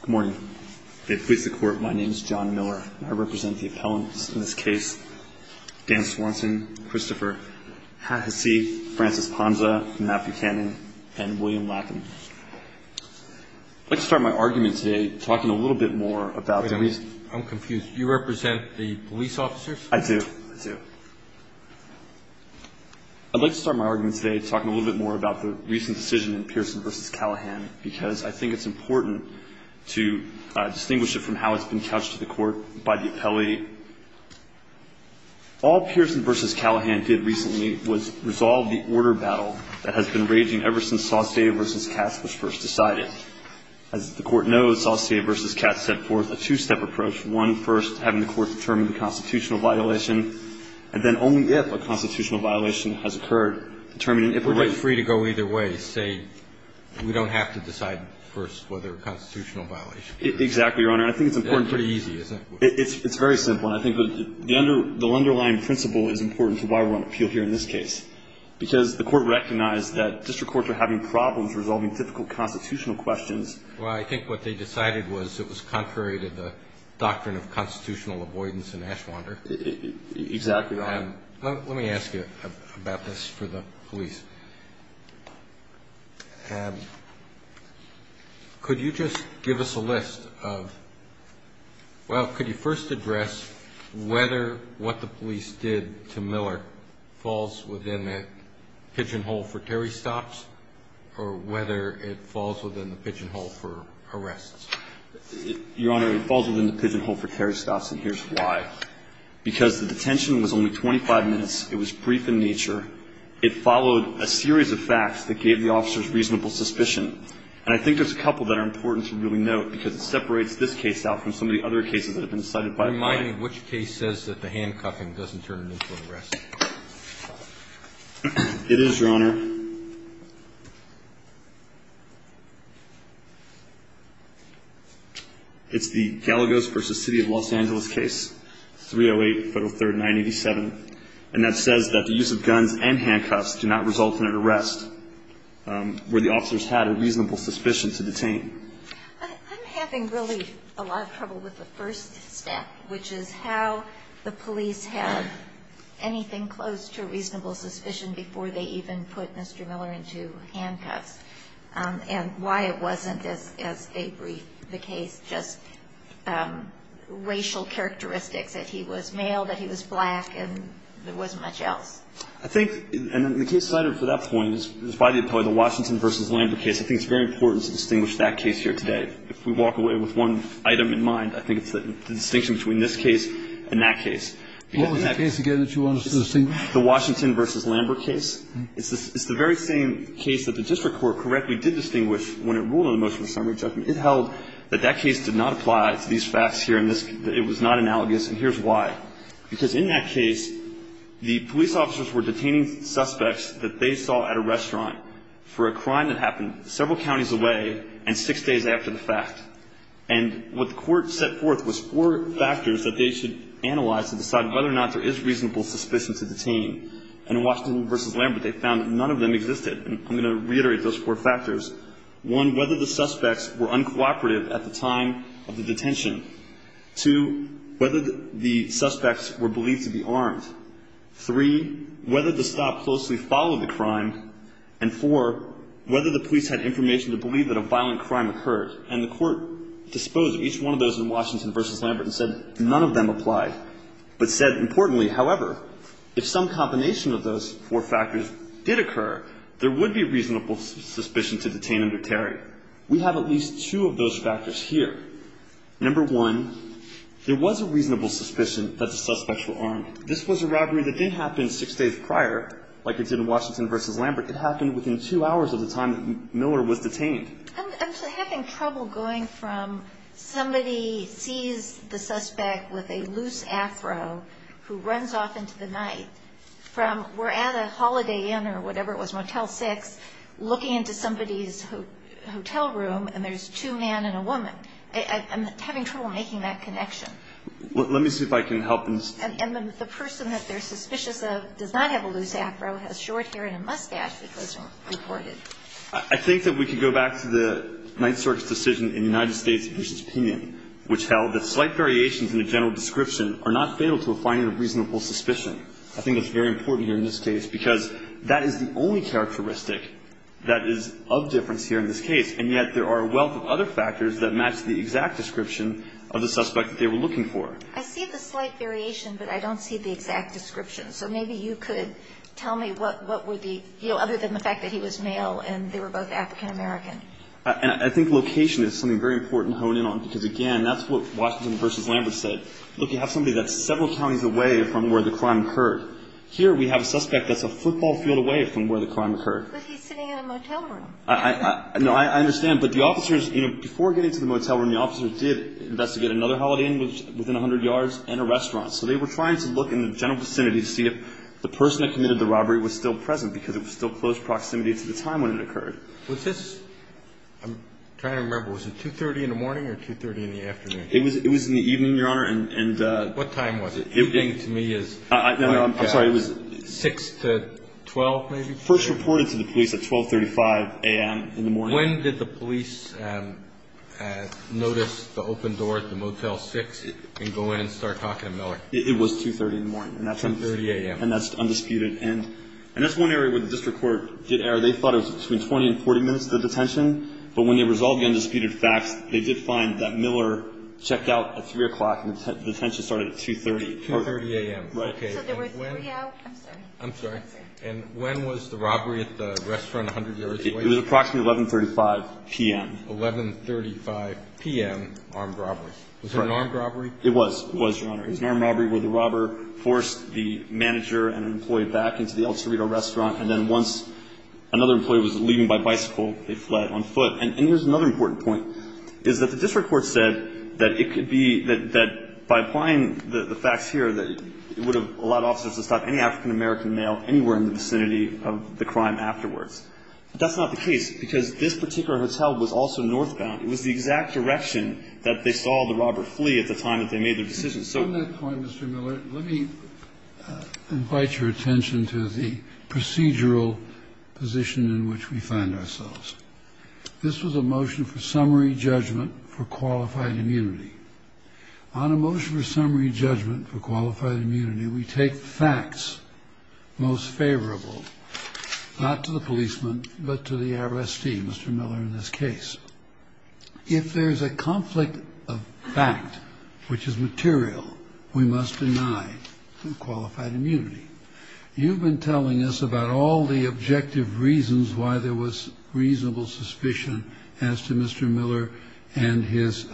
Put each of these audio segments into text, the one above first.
Good morning. May it please the Court, my name is John Miller, and I represent the appellants in this case, Dan Swanson, Christopher Hasse, Francis Ponza, Matt Buchanan, and William Lackin. I'd like to start my argument today talking a little bit more about the recent Wait a minute. I'm confused. You represent the police officers? I do. I do. I'd like to start my argument today talking a little bit more about the recent because I think it's important to distinguish it from how it's been couched to the court by the appellate. All Pierson v. Callahan did recently was resolve the order battle that has been raging ever since Saucier v. Katz was first decided. As the Court knows, Saucier v. Katz set forth a two-step approach, one, first having the Court determine the constitutional violation, and then only if a constitutional violation has occurred, determining if it would be free to go either way, say, we don't have to decide first whether a constitutional violation exists. Exactly, Your Honor. I think it's important to It's pretty easy, isn't it? It's very simple, and I think the underlying principle is important to why we're on appeal here in this case, because the Court recognized that district courts were having problems resolving typical constitutional questions. Well, I think what they decided was it was contrary to the doctrine of constitutional avoidance in Ashwander. Exactly, Your Honor. Let me ask you about this for the police. Could you just give us a list of, well, could you first address whether what the police did to Miller falls within the pigeonhole for Terry stops or whether it falls within the pigeonhole for arrests? Your Honor, it falls within the pigeonhole for Terry stops, and here's why. Because the detention was only 25 minutes. It was brief in nature. It followed a series of facts that gave the officers reasonable suspicion. And I think there's a couple that are important to really note, because it separates this case out from some of the other cases that have been cited by the court. Remind me which case says that the handcuffing doesn't turn into an arrest. It is, Your Honor. It's the Galagos v. City of Los Angeles case, 308-503-987. And that says that the use of guns and handcuffs do not result in an arrest, where the officers had a reasonable suspicion to detain. I'm having really a lot of trouble with the first step, which is how the police had anything close to a reasonable suspicion before they even put the handcuffs on. close to a reasonable suspicion before they even put the handcuffs on. close to a reasonable suspicion before they even put Mr. Miller into handcuffs, and why it wasn't, as a brief, the case, just racial characteristics, that he was male, that he was black, and there wasn't much else. I think, and the case cited for that point is probably the Washington v. Lambert case. I think it's very important to distinguish that case here today. If we walk away with one item in mind, I think it's the distinction between this case and that case. What was that case again that you wanted to distinguish? The Washington v. Lambert case. It's the very same case that the district court correctly did distinguish when it ruled on the motion of summary judgment. It held that that case did not apply to these facts here, and it was not analogous and here's why. Because in that case, the police officers were detaining suspects that they saw at a restaurant for a crime that happened several counties away and six days after the fact. And what the court set forth was four factors that they should analyze to decide whether or not there is reasonable suspicion to detain. And in Washington v. Lambert, they found that none of them existed. And I'm going to reiterate those four factors. One, whether the suspects were uncooperative at the time of the detention. Two, whether the suspects were believed to be armed. Three, whether the stop closely followed the crime. And four, whether the police had information to believe that a violent crime occurred. And the court disposed of each one of those in Washington v. Lambert and said none of them applied. But said importantly, however, if some combination of those four factors did occur, there would be reasonable suspicion to detain under Terry. We have at least two of those factors here. Number one, there was a reasonable suspicion that the suspects were armed. This was a robbery that didn't happen six days prior like it did in Washington v. Lambert. It happened within two hours of the time that Miller was detained. I'm having trouble going from somebody sees the suspect with a loose afro who runs off into the night from we're at a Holiday Inn or whatever it was, Motel 6, looking into somebody's hotel room and there's two men and a woman. I'm having trouble making that connection. Let me see if I can help. And the person that they're suspicious of does not have a loose afro, has short hair and a mustache, which was reported. I think that we could go back to the Ninth Circuit's decision in the United States v. Pinion, which held that slight variations in the general description are not fatal to a finding of reasonable suspicion. I think that's very important here in this case because that is the only characteristic that is of difference here in this case, and yet there are a wealth of other factors that match the exact description of the suspect that they were looking for. I see the slight variation, but I don't see the exact description. So maybe you could tell me what were the other than the fact that he was male and they were both African American. I think location is something very important to hone in on because, again, that's what Washington v. Lambert said. Look, you have somebody that's several counties away from where the crime occurred. Here we have a suspect that's a football field away from where the crime occurred. But he's sitting in a motel room. No, I understand. But the officers, you know, before getting to the motel room, the officers did investigate another Holiday Inn within 100 yards and a restaurant. So they were trying to look in the general vicinity to see if the person that committed the robbery was still present because it was still close proximity to the time when it occurred. I'm trying to remember. Was it 2.30 in the morning or 2.30 in the afternoon? It was in the evening, Your Honor. What time was it? I'm sorry. It was 6 to 12 maybe? First reported to the police at 12.35 a.m. in the morning. When did the police notice the open door at the Motel 6 and go in and start talking to Miller? It was 2.30 in the morning. 2.30 a.m. And that's undisputed. And that's one area where the district court did err. They thought it was between 20 and 40 minutes to detention. But when they resolved the undisputed facts, they did find that Miller checked out at 3 o'clock and the detention started at 2.30. 2.30 a.m. Right. So there were three out? I'm sorry. And when was the robbery at the restaurant 100 yards away? It was approximately 11.35 p.m. 11.35 p.m. armed robbery. Was it an armed robbery? It was, Your Honor. It was an armed robbery where the robber forced the manager and an employee back into the El Cerrito restaurant. And then once another employee was leaving by bicycle, they fled on foot. And here's another important point, is that the district court said that it could be that by applying the facts here, that it would have allowed officers to stop any African-American male anywhere in the vicinity of the crime afterwards. That's not the case, because this particular hotel was also northbound. It was the exact direction that they saw the robber flee at the time that they made their decision. So at that point, Mr. Miller, let me invite your attention to the procedural position in which we find ourselves. This was a motion for summary judgment for qualified immunity. On a motion for summary judgment for qualified immunity, we take the facts most favorable, not to the policeman, but to the arrestee, Mr. Miller, in this case. If there's a conflict of fact which is material, we must deny qualified immunity. You've been telling us about all the objective reasons why there was reasonable suspicion as to Mr. Miller and his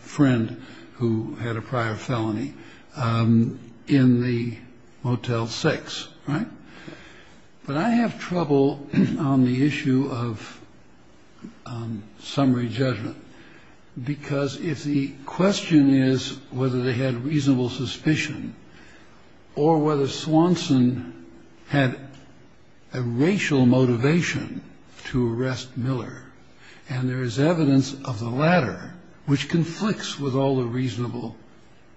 friend who had a prior felony in the Motel 6, right? But I have trouble on the issue of summary judgment, because if the question is whether they had reasonable suspicion or whether Swanson had a racial motivation to arrest Miller, and there is evidence of the latter which conflicts with all the reasonable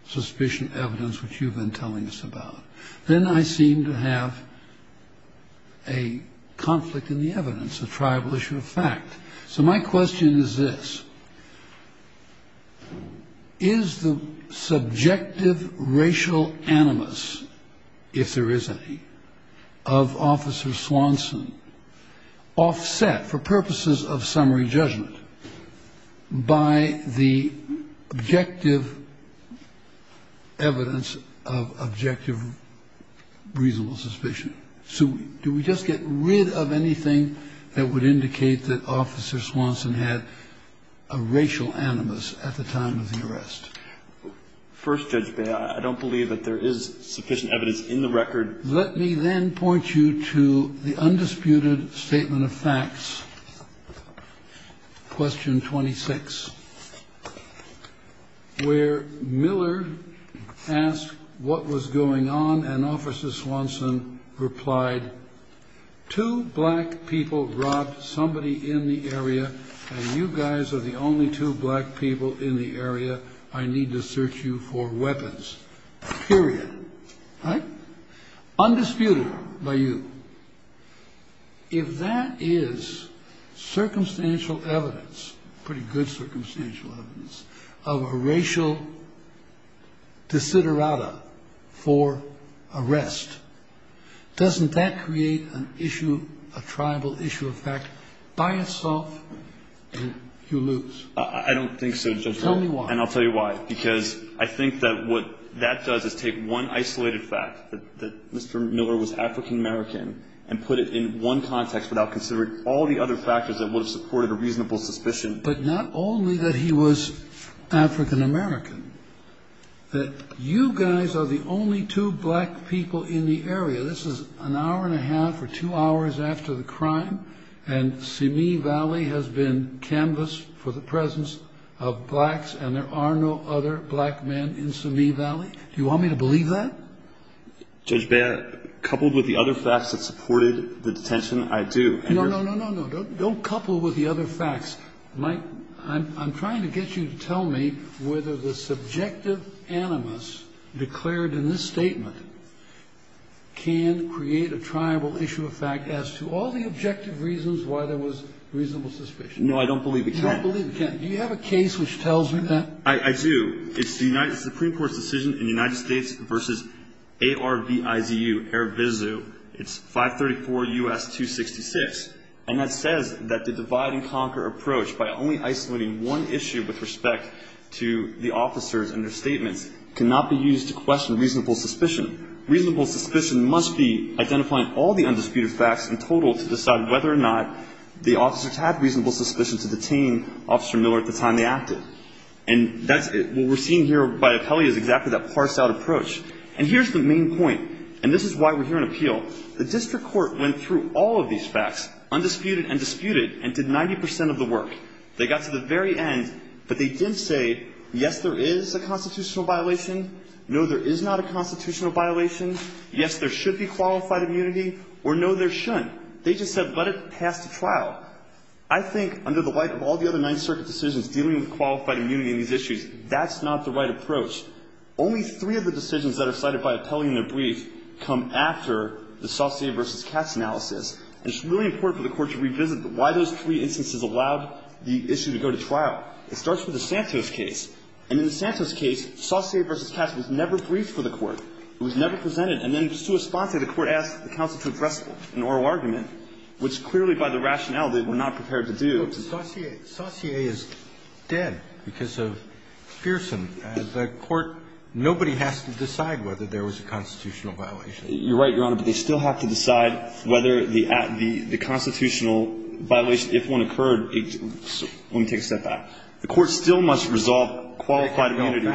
suspicion evidence which you've been telling us about, then I seem to have a conflict in the evidence, a tribal issue of fact. So my question is this. Is the subjective racial animus, if there is any, of Officer Swanson offset for purposes of summary judgment by the objective evidence of objective reasonable suspicion? So do we just get rid of anything that would indicate that Officer Swanson had a racial animus at the time of the arrest? First, Judge Beyer, I don't believe that there is sufficient evidence in the record. Let me then point you to the undisputed statement of facts, question 26, where Miller asked what was going on and replied, two black people robbed somebody in the area, and you guys are the only two black people in the area. I need to search you for weapons, period, right? Undisputed by you, if that is circumstantial evidence, pretty good circumstantial evidence, of a racial desiderata for arrest, doesn't that create an issue, a tribal issue of fact by itself, and you lose? I don't think so, Judge Breyer. Tell me why. And I'll tell you why, because I think that what that does is take one isolated fact, that Mr. Miller was African American, and put it in one context without considering all the other factors that would have supported a reasonable suspicion. But not only that he was African American, that you guys are the only two black people in the area, this is an hour and a half or two hours after the crime, and Simi Valley has been canvassed for the presence of blacks, and there are no other black men in Simi Valley? Do you want me to believe that? Judge Beyer, coupled with the other facts that supported the detention, I do. No, no, no, no, no, don't couple with the other facts. Mike, I'm trying to get you to tell me whether the subjective animus declared in this statement can create a tribal issue of fact as to all the objective reasons why there was reasonable suspicion. No, I don't believe it can. You don't believe it can. Do you have a case which tells me that? I do. It's the Supreme Court's decision in the United States versus ARVIZU, it's 534 U.S. 266, and that says that the divide and conquer approach by only isolating one issue with respect to the officers and their statements cannot be used to question reasonable suspicion. Reasonable suspicion must be identifying all the undisputed facts in total to decide whether or not the officers had reasonable suspicion to detain Officer Miller at the time they acted. And what we're seeing here by Apelli is exactly that parsed out approach. And here's the main point, and this is why we're here in appeal. The district court went through all of these facts, undisputed and disputed, and did 90 percent of the work. They got to the very end, but they didn't say, yes, there is a constitutional violation, no, there is not a constitutional violation, yes, there should be qualified immunity, or no, there shouldn't. They just said let it pass the trial. I think under the light of all the other Ninth Circuit decisions dealing with qualified immunity in these issues, that's not the right approach. Only three of the decisions that are cited by Apelli in their brief come after the Saussure v. Katz analysis. And it's really important for the Court to revisit why those three instances allowed the issue to go to trial. It starts with the Santos case. And in the Santos case, Saussure v. Katz was never briefed for the Court. It was never presented. And then just to a sponsor, the Court asked the counsel to address an oral argument, which clearly by the rationale they were not prepared to do. Sotomayor, Saussure is dead because of Fearsome. The Court, nobody has to decide whether there was a constitutional violation. You're right, Your Honor, but they still have to decide whether the constitutional violation, if one occurred, let me take a step back. The Court still must resolve qualified immunity.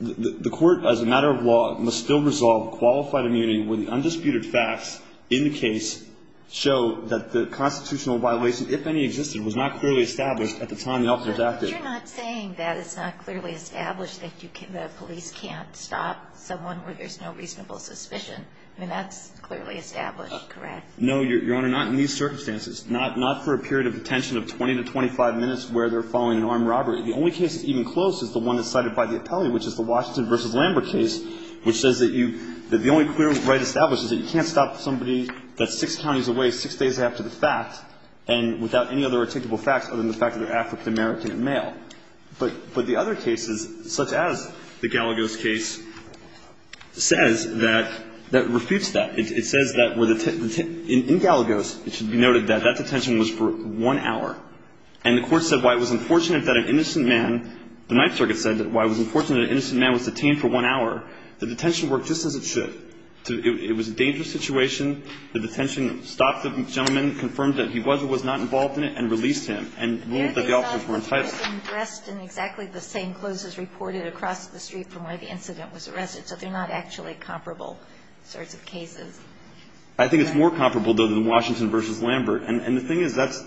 The Court, as a matter of law, must still resolve qualified immunity when the undisputed facts in the case show that the constitutional violation, if any existed, was not clearly established at the time the officers acted. But you're not saying that it's not clearly established that police can't stop someone where there's no reasonable suspicion. I mean, that's clearly established, correct? No, Your Honor, not in these circumstances. Not for a period of detention of 20 to 25 minutes where they're following an armed robbery. The only case that's even close is the one that's cited by the Apelli, which is the Washington v. Lambert case, which says that you, that the only clear right established is that you can't stop somebody that's six counties away, six days after the fact, and without any other articulable facts other than the fact that they're African American and male. But the other cases, such as the Galagos case, says that, that refutes that. It says that in Galagos, it should be noted that that detention was for one hour. And the Court said why it was unfortunate that an innocent man, the Ninth Circuit said that why it was unfortunate that an innocent man was detained for one hour, the detention worked just as it should. It was a dangerous situation. The detention stopped the gentleman, confirmed that he was or was not involved in it, and released him, and ruled that the officers were enticed. But yet they thought he was arrested in exactly the same clothes as reported across the street from where the incident was arrested. So they're not actually comparable sorts of cases. I think it's more comparable, though, than Washington v. Lambert. And the thing is, that's,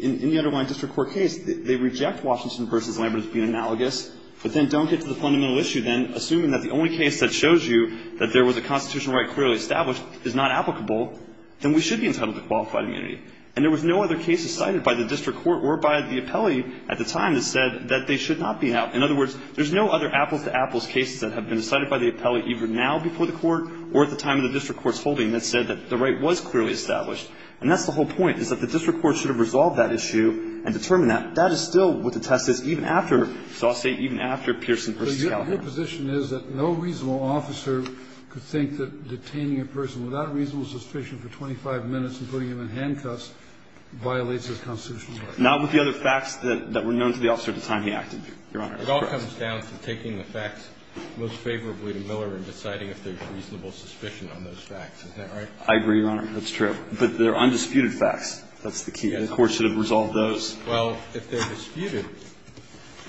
in the underlying district court case, they reject Washington v. Lambert as being analogous. But then don't get to the fundamental issue, then. Assuming that the only case that shows you that there was a constitutional right clearly established is not applicable, then we should be entitled to qualified immunity. And there was no other case decided by the district court or by the appellee at the time that said that they should not be out. In other words, there's no other apples-to-apples cases that have been decided by the appellee either now before the Court or at the time of the district court's holding that said that the right was clearly established. And that's the whole point, is that the district court should have resolved that issue and determined that. And that is still what the test is even after, so I'll say even after, Pearson v. Callahan. Your position is that no reasonable officer could think that detaining a person without reasonable suspicion for 25 minutes and putting him in handcuffs violates his constitutional right? Not with the other facts that were known to the officer at the time he acted, Your Honor. It all comes down to taking the facts most favorably to Miller and deciding if there's reasonable suspicion on those facts. Is that right? I agree, Your Honor. That's true. But they're undisputed facts. That's the key. The Court should have resolved those. Well, if they're disputed,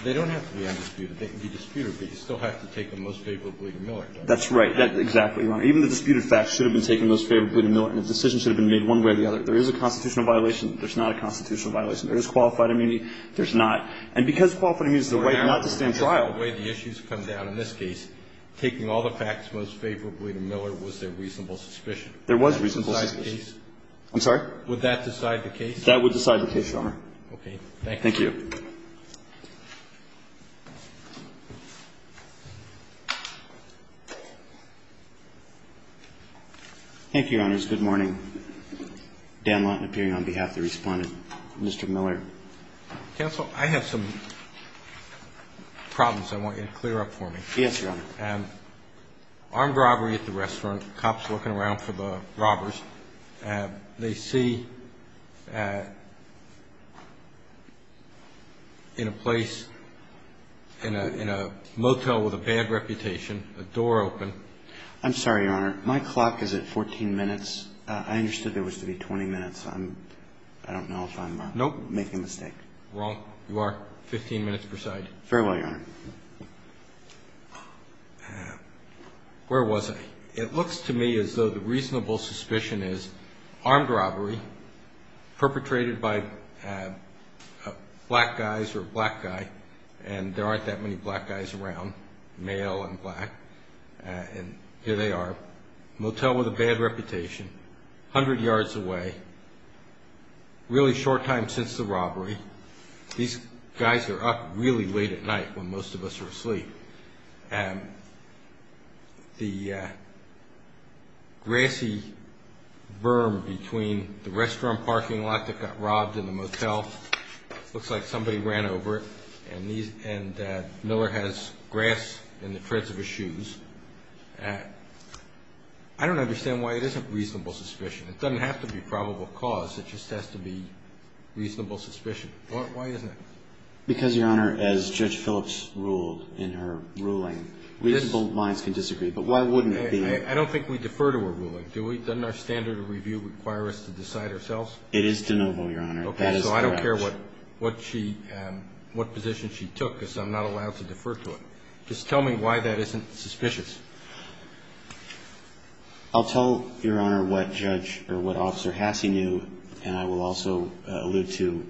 they don't have to be undisputed. They can be disputed, but you still have to take them most favorably to Miller, don't you? That's right. Exactly, Your Honor. Even the disputed facts should have been taken most favorably to Miller, and a decision should have been made one way or the other. There is a constitutional violation. There's not a constitutional violation. There is qualified immunity. There's not. And because qualified immunity is the right not to stand trial. The way the issues come down in this case, taking all the facts most favorably to Miller, was there reasonable suspicion? There was reasonable suspicion. Would that decide the case? I'm sorry? Would that decide the case, Your Honor? Okay. Thank you. Thank you. Thank you, Your Honors. Good morning. Dan Lotten, appearing on behalf of the Respondent. Mr. Miller. Counsel, I have some problems I want you to clear up for me. Yes, Your Honor. Armed robbery at the restaurant, cops looking around for the robbers. They see in a place, in a motel with a bad reputation, a door open. I'm sorry, Your Honor. My clock is at 14 minutes. I understood there was to be 20 minutes. I don't know if I'm making a mistake. Nope. Wrong. You are 15 minutes presiding. Farewell, Your Honor. Where was I? It looks to me as though the reasonable suspicion is armed robbery, perpetrated by black guys or a black guy, and there aren't that many black guys around, male and black. And here they are, motel with a bad reputation, 100 yards away, really short time since the robbery. These guys are up really late at night when most of us are asleep. The grassy berm between the restaurant parking lot that got robbed and the motel, looks like somebody ran over it, and Miller has grass in the treads of his shoes. I don't understand why it isn't reasonable suspicion. It doesn't have to be probable cause. It just has to be reasonable suspicion. Why isn't it? Because, Your Honor, as Judge Phillips ruled in her ruling, reasonable minds can disagree, but why wouldn't it be? I don't think we defer to a ruling, do we? Doesn't our standard of review require us to decide ourselves? It is de novo, Your Honor. Okay. So I don't care what position she took because I'm not allowed to defer to it. Just tell me why that isn't suspicious. I'll tell Your Honor what Judge or what Officer Hasse knew, and I will also allude to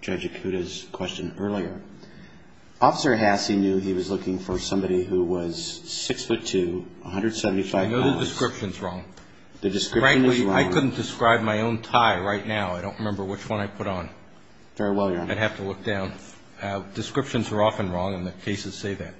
Judge Acuda's question earlier. Officer Hasse knew he was looking for somebody who was 6'2", 175 pounds. I know the description's wrong. The description is wrong. Frankly, I couldn't describe my own tie right now. I don't remember which one I put on. Very well, Your Honor. I'd have to look down. Descriptions are often wrong, and the cases say that.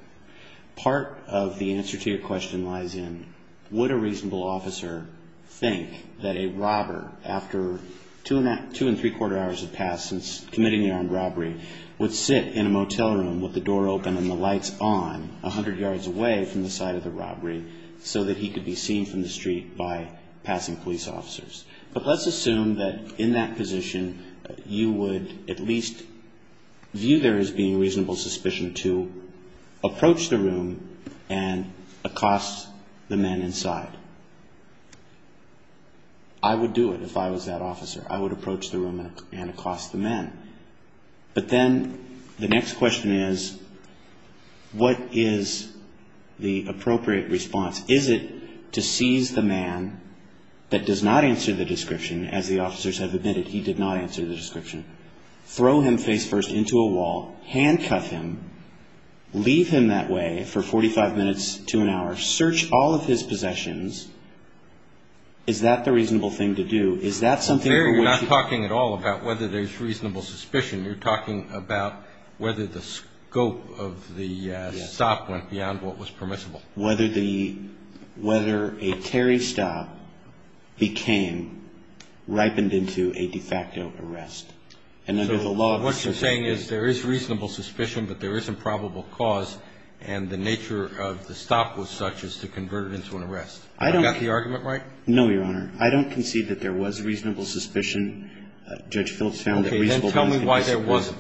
Part of the answer to your question lies in, would a reasonable officer think that a robber, after two and three-quarter hours had passed since committing the armed robbery, would sit in a motel room with the door open and the lights on, 100 yards away from the site of the robbery, so that he could be seen from the street by passing police officers? But let's assume that in that position, you would at least view there as being reasonable suspicion to approach the room and accost the men inside. I would do it if I was that officer. I would approach the room and accost the men. But then the next question is, what is the appropriate response? Is it to seize the man that does not answer the description, as the officers have admitted he did not answer the description, throw him face-first into a wall, handcuff him, leave him that way for 45 minutes to an hour, search all of his possessions? Is that the reasonable thing to do? Is that something for which he could be seen? There you're not talking at all about whether there's reasonable suspicion. You're talking about whether the scope of the stop went beyond what was permissible. Whether a Terry stop became ripened into a de facto arrest. So what you're saying is there is reasonable suspicion, but there is improbable cause, and the nature of the stop was such as to convert it into an arrest. Have I got the argument right? No, Your Honor. I don't concede that there was reasonable suspicion. Judge Phillips found that reasonable suspicion. Okay. Then tell me why there wasn't.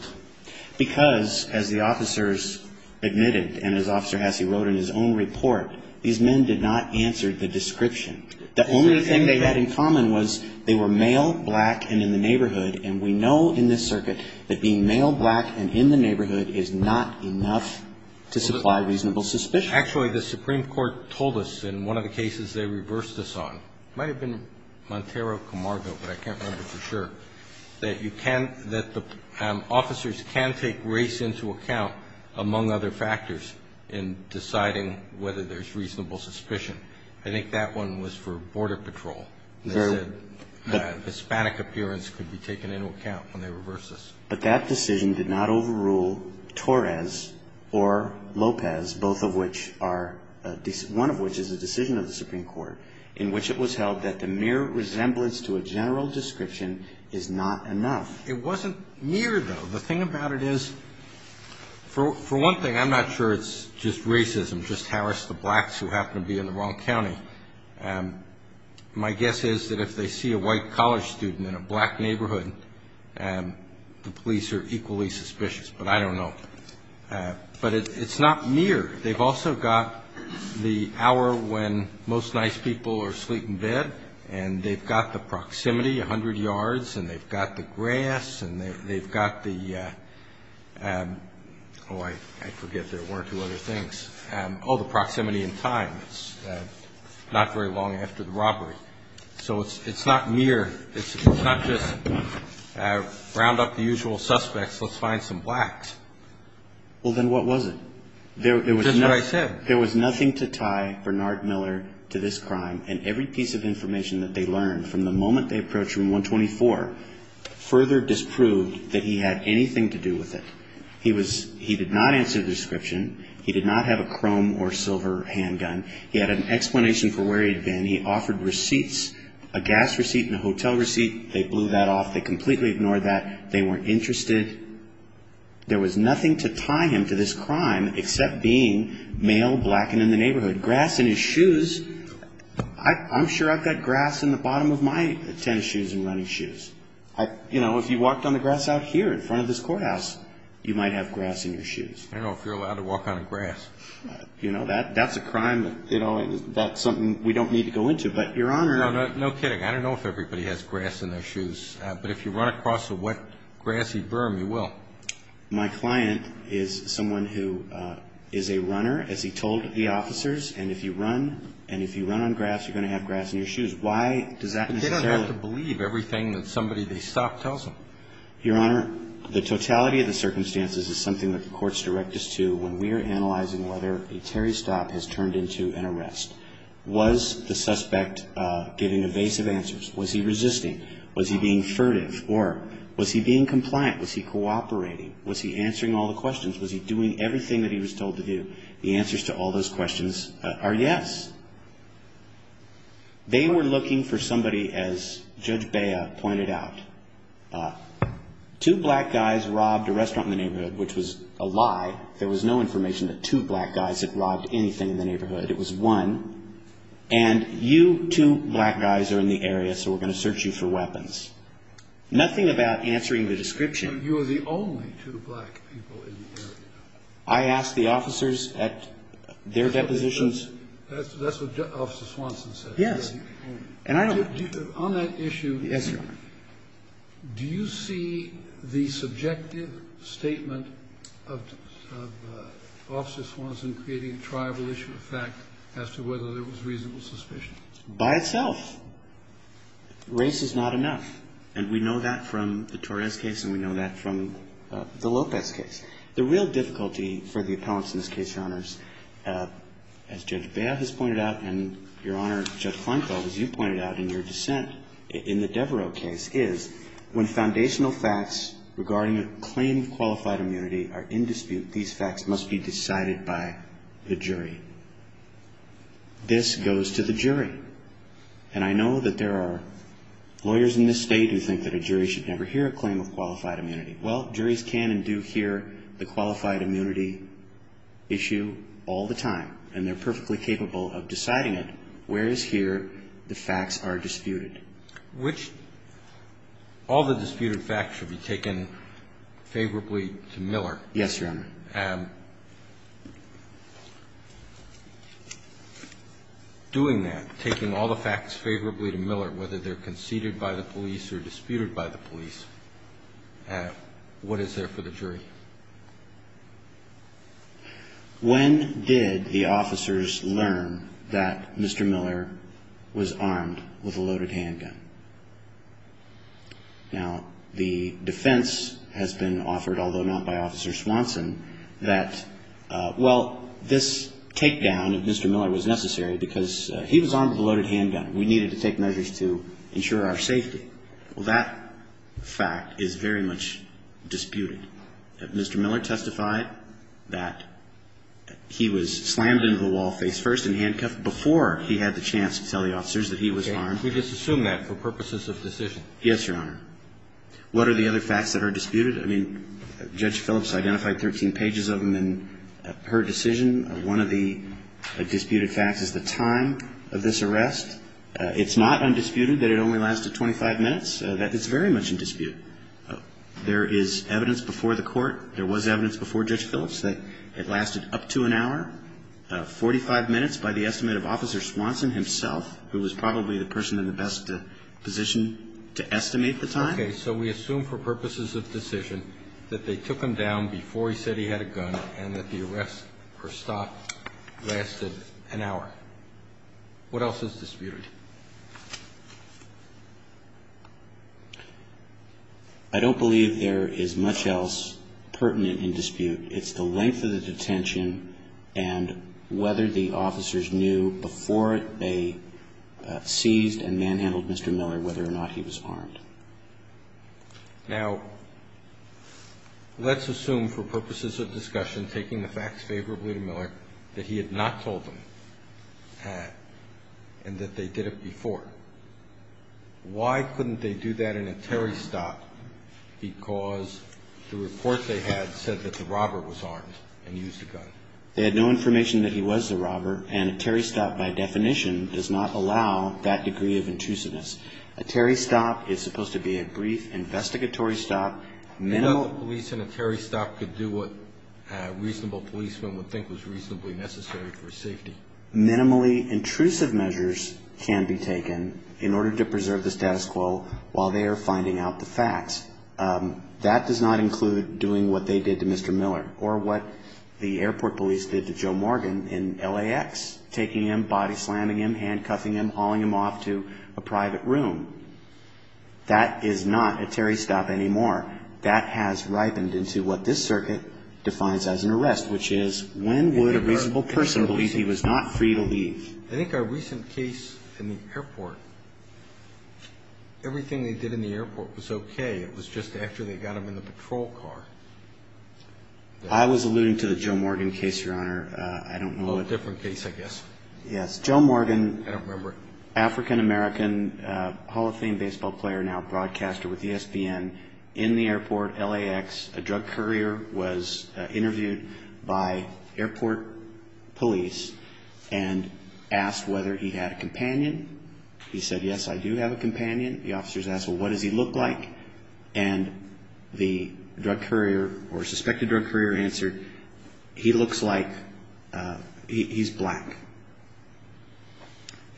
Because, as the officers admitted, and as Officer Hassey wrote in his own report, these men did not answer the description. The only thing they had in common was they were male, black, and in the neighborhood, and we know in this circuit that being male, black, and in the neighborhood is not enough to supply reasonable suspicion. Actually, the Supreme Court told us in one of the cases they reversed us on. It might have been Montero Camargo, but I can't remember for sure, that the officers can take race into account, among other factors, in deciding whether there's reasonable suspicion. I think that one was for Border Patrol. They said the Hispanic appearance could be taken into account when they reversed us. But that decision did not overrule Torres or Lopez, both of which are, one of which is a decision of the Supreme Court, in which it was held that the mere resemblance to a general description is not enough. It wasn't mere, though. The thing about it is, for one thing, I'm not sure it's just racism, just harass the blacks who happen to be in the wrong county. My guess is that if they see a white college student in a black neighborhood, the police are equally suspicious. But I don't know. But it's not mere. They've also got the hour when most nice people are asleep in bed, and they've got the proximity, 100 yards, and they've got the grass, and they've got the, oh, I forget there were two other things. Oh, the proximity in time. It's not very long after the robbery. So it's not mere. It's not just round up the usual suspects, let's find some blacks. Well, then what was it? Just what I said. There was nothing to tie Bernard Miller to this crime, and every piece of information that they learned from the moment they approached Room 124 further disproved that he had anything to do with it. He did not answer the description. He did not have a chrome or silver handgun. He had an explanation for where he'd been. He offered receipts, a gas receipt and a hotel receipt. They blew that off. They completely ignored that. They weren't interested. There was nothing to tie him to this crime except being male, black, and in the neighborhood. Grass in his shoes. I'm sure I've got grass in the bottom of my tennis shoes and running shoes. You know, if you walked on the grass out here in front of this courthouse, you might have grass in your shoes. I don't know if you're allowed to walk on grass. You know, that's a crime that's something we don't need to go into. But, Your Honor. No kidding. I don't know if everybody has grass in their shoes. But if you run across a wet, grassy berm, you will. My client is someone who is a runner, as he told the officers, and if you run and if you run on grass, you're going to have grass in your shoes. Why does that necessarily? They don't have to believe everything that somebody they stop tells them. Your Honor, the totality of the circumstances is something that the courts direct us to when we are analyzing whether a Terry stop has turned into an arrest. Was the suspect giving evasive answers? Was he resisting? Was he being furtive? Or was he being compliant? Was he cooperating? Was he answering all the questions? Was he doing everything that he was told to do? The answers to all those questions are yes. They were looking for somebody, as Judge Bea pointed out, two black guys robbed a restaurant in the neighborhood, which was a lie. There was no information that two black guys had robbed anything in the neighborhood. It was one. And you two black guys are in the area, so we're going to search you for weapons. Nothing about answering the description. You are the only two black people in the area. I asked the officers at their depositions. That's what Officer Swanson said. Yes. On that issue, do you see the subjective statement of Officer Swanson creating a tribal issue of fact as to whether there was reasonable suspicion? By itself. Race is not enough. And we know that from the Torres case, and we know that from the Lopez case. The real difficulty for the appellants in this case, Your Honors, as Judge Bea has pointed out, and, Your Honor, Judge Kleinfeld, as you pointed out in your dissent in the Devereux case, is when foundational facts regarding a claim of qualified immunity are in dispute, these facts must be decided by the jury. This goes to the jury. And I know that there are lawyers in this State who think that a jury should never hear a claim of qualified immunity. Well, juries can and do hear the qualified immunity issue all the time, and they're perfectly capable of deciding it, whereas here the facts are disputed. Which all the disputed facts should be taken favorably to Miller. Yes, Your Honor. And doing that, taking all the facts favorably to Miller, whether they're conceded by the police or disputed by the police, what is there for the jury? When did the officers learn that Mr. Miller was armed with a loaded handgun? Now, the defense has been offered, although not by Officer Swanson, that, well, this takedown of Mr. Miller was necessary because he was armed with a loaded handgun. We needed to take measures to ensure our safety. Well, that fact is very much disputed. Mr. Miller testified that he was slammed into the wall face-first and handcuffed before he had the chance to tell the officers that he was armed. We just assume that for purposes of decision. Yes, Your Honor. What are the other facts that are disputed? I mean, Judge Phillips identified 13 pages of them in her decision. One of the disputed facts is the time of this arrest. It's not undisputed that it only lasted 25 minutes. That is very much in dispute. There is evidence before the Court. There was evidence before Judge Phillips that it lasted up to an hour, 45 minutes by the estimate of Officer Swanson himself, who was probably the person in the best position to estimate the time. Okay. So we assume for purposes of decision that they took him down before he said he had a What else is disputed? I don't believe there is much else pertinent in dispute. It's the length of the detention and whether the officers knew before they seized and manhandled Mr. Miller whether or not he was armed. Now, let's assume for purposes of discussion, taking the facts favorably to Miller, that he had not told them and that they did it before. Why couldn't they do that in a Terry stop? Because the report they had said that the robber was armed and used a gun. They had no information that he was the robber, and a Terry stop, by definition, does not allow that degree of intrusiveness. A Terry stop is supposed to be a brief investigatory stop. Minimal police in a Terry stop could do what a reasonable policeman would think was reasonably necessary for safety. Minimally intrusive measures can be taken in order to preserve the status quo while they are finding out the facts. That does not include doing what they did to Mr. Miller or what the airport police did to Joe Morgan in LAX, taking him, body slamming him, handcuffing him, hauling him off to a private room. That is not a Terry stop anymore. That has ripened into what this circuit defines as an arrest, which is, when would a reasonable person believe he was not free to leave? I think our recent case in the airport, everything they did in the airport was okay. It was just after they got him in the patrol car. I was alluding to the Joe Morgan case, Your Honor. I don't know what the case was. A little different case, I guess. Yes. Joe Morgan, African-American, Hall of Fame baseball player, now a broadcaster with ESPN, in the airport, LAX, a drug courier was interviewed by airport police and asked whether he had a companion. He said, yes, I do have a companion. The officers asked, well, what does he look like? And the drug courier or suspected drug courier answered, he looks like he's black.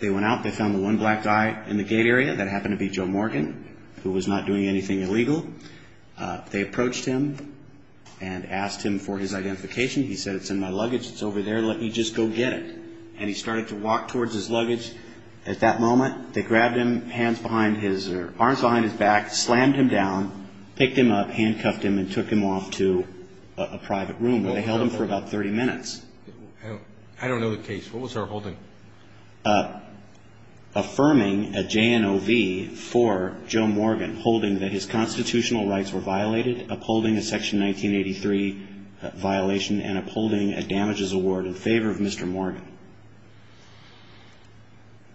They went out. They found the one black guy in the gate area. That happened to be Joe Morgan, who was not doing anything illegal. They approached him and asked him for his identification. He said, it's in my luggage. It's over there. And he started to walk towards his luggage. At that moment, they grabbed him, arms behind his back, slammed him down, picked him up, handcuffed him, and took him off to a private room where they held him for about 30 minutes. I don't know the case. What was our holding? Affirming a JNOV for Joe Morgan, holding that his constitutional rights were violated, upholding a Section 1983 violation, and upholding a damages award in favor of Mr. Morgan.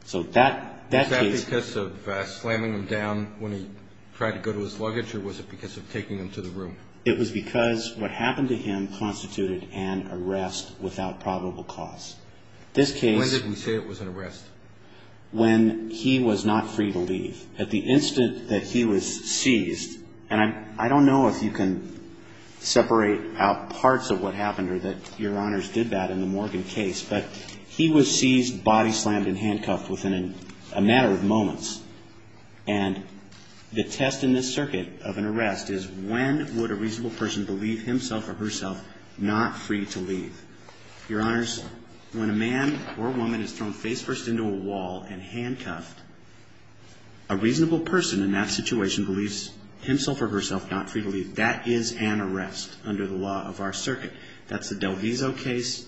So that case... Was that because of slamming him down when he tried to go to his luggage, or was it because of taking him to the room? It was because what happened to him constituted an arrest without probable cause. This case... When did we say it was an arrest? When he was not free to leave. At the instant that he was seized, and I don't know if you can separate out parts of what happened or that Your Honors did that in the Morgan case, but he was seized, body slammed, and handcuffed within a matter of moments. And the test in this circuit of an arrest is, when would a reasonable person believe himself or herself not free to leave? Your Honors, when a man or woman is thrown face first into a wall and handcuffed, a reasonable person in that situation believes himself or herself not free to leave. That is an arrest under the law of our circuit. That's the Del Vizo case,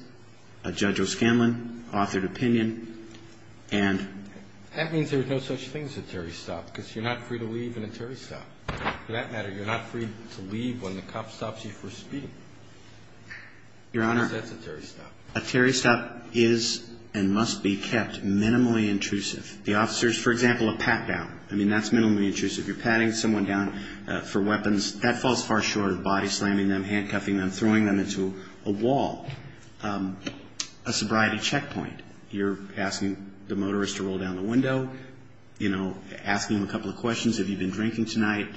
Judge O'Scanlan authored opinion, and... That means there's no such thing as a Terry stop, because you're not free to leave in a Terry stop. For that matter, you're not free to leave when the cop stops you for speeding. Your Honor... Because that's a Terry stop. A Terry stop is and must be kept minimally intrusive. The officers, for example, a pat down. I mean, that's minimally intrusive. You're patting someone down for weapons. That falls far short of body slamming them, handcuffing them, throwing them into a wall. A sobriety checkpoint. You're asking the motorist to roll down the window. You know, asking them a couple of questions. Have you been drinking tonight?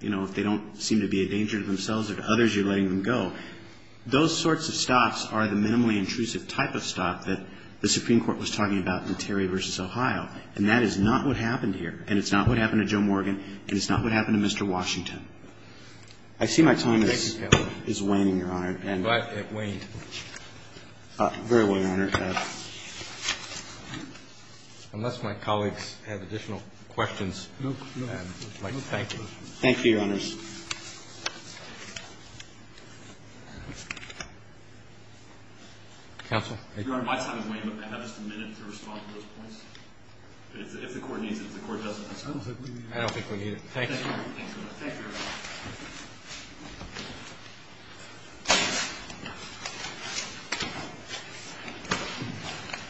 You know, if they don't seem to be a danger to themselves or to others, you're letting them go. Those sorts of stops are the minimally intrusive type of stop that the Supreme Court was talking about in Terry v. Ohio, and that is not what happened here, and it's not what happened to Joe Morgan, and it's not what happened to Mr. Washington. I see my time is waning, Your Honor. I'm glad it waned. Very well, Your Honor. Unless my colleagues have additional questions, I'd like to thank you. Thank you, Your Honors. Counsel? Your Honor, my time is waning, but may I have just a minute to respond to those points? If the Court needs it. If the Court doesn't, that's fine. I don't think we need it. I don't think we need it. Thank you. Thank you very much.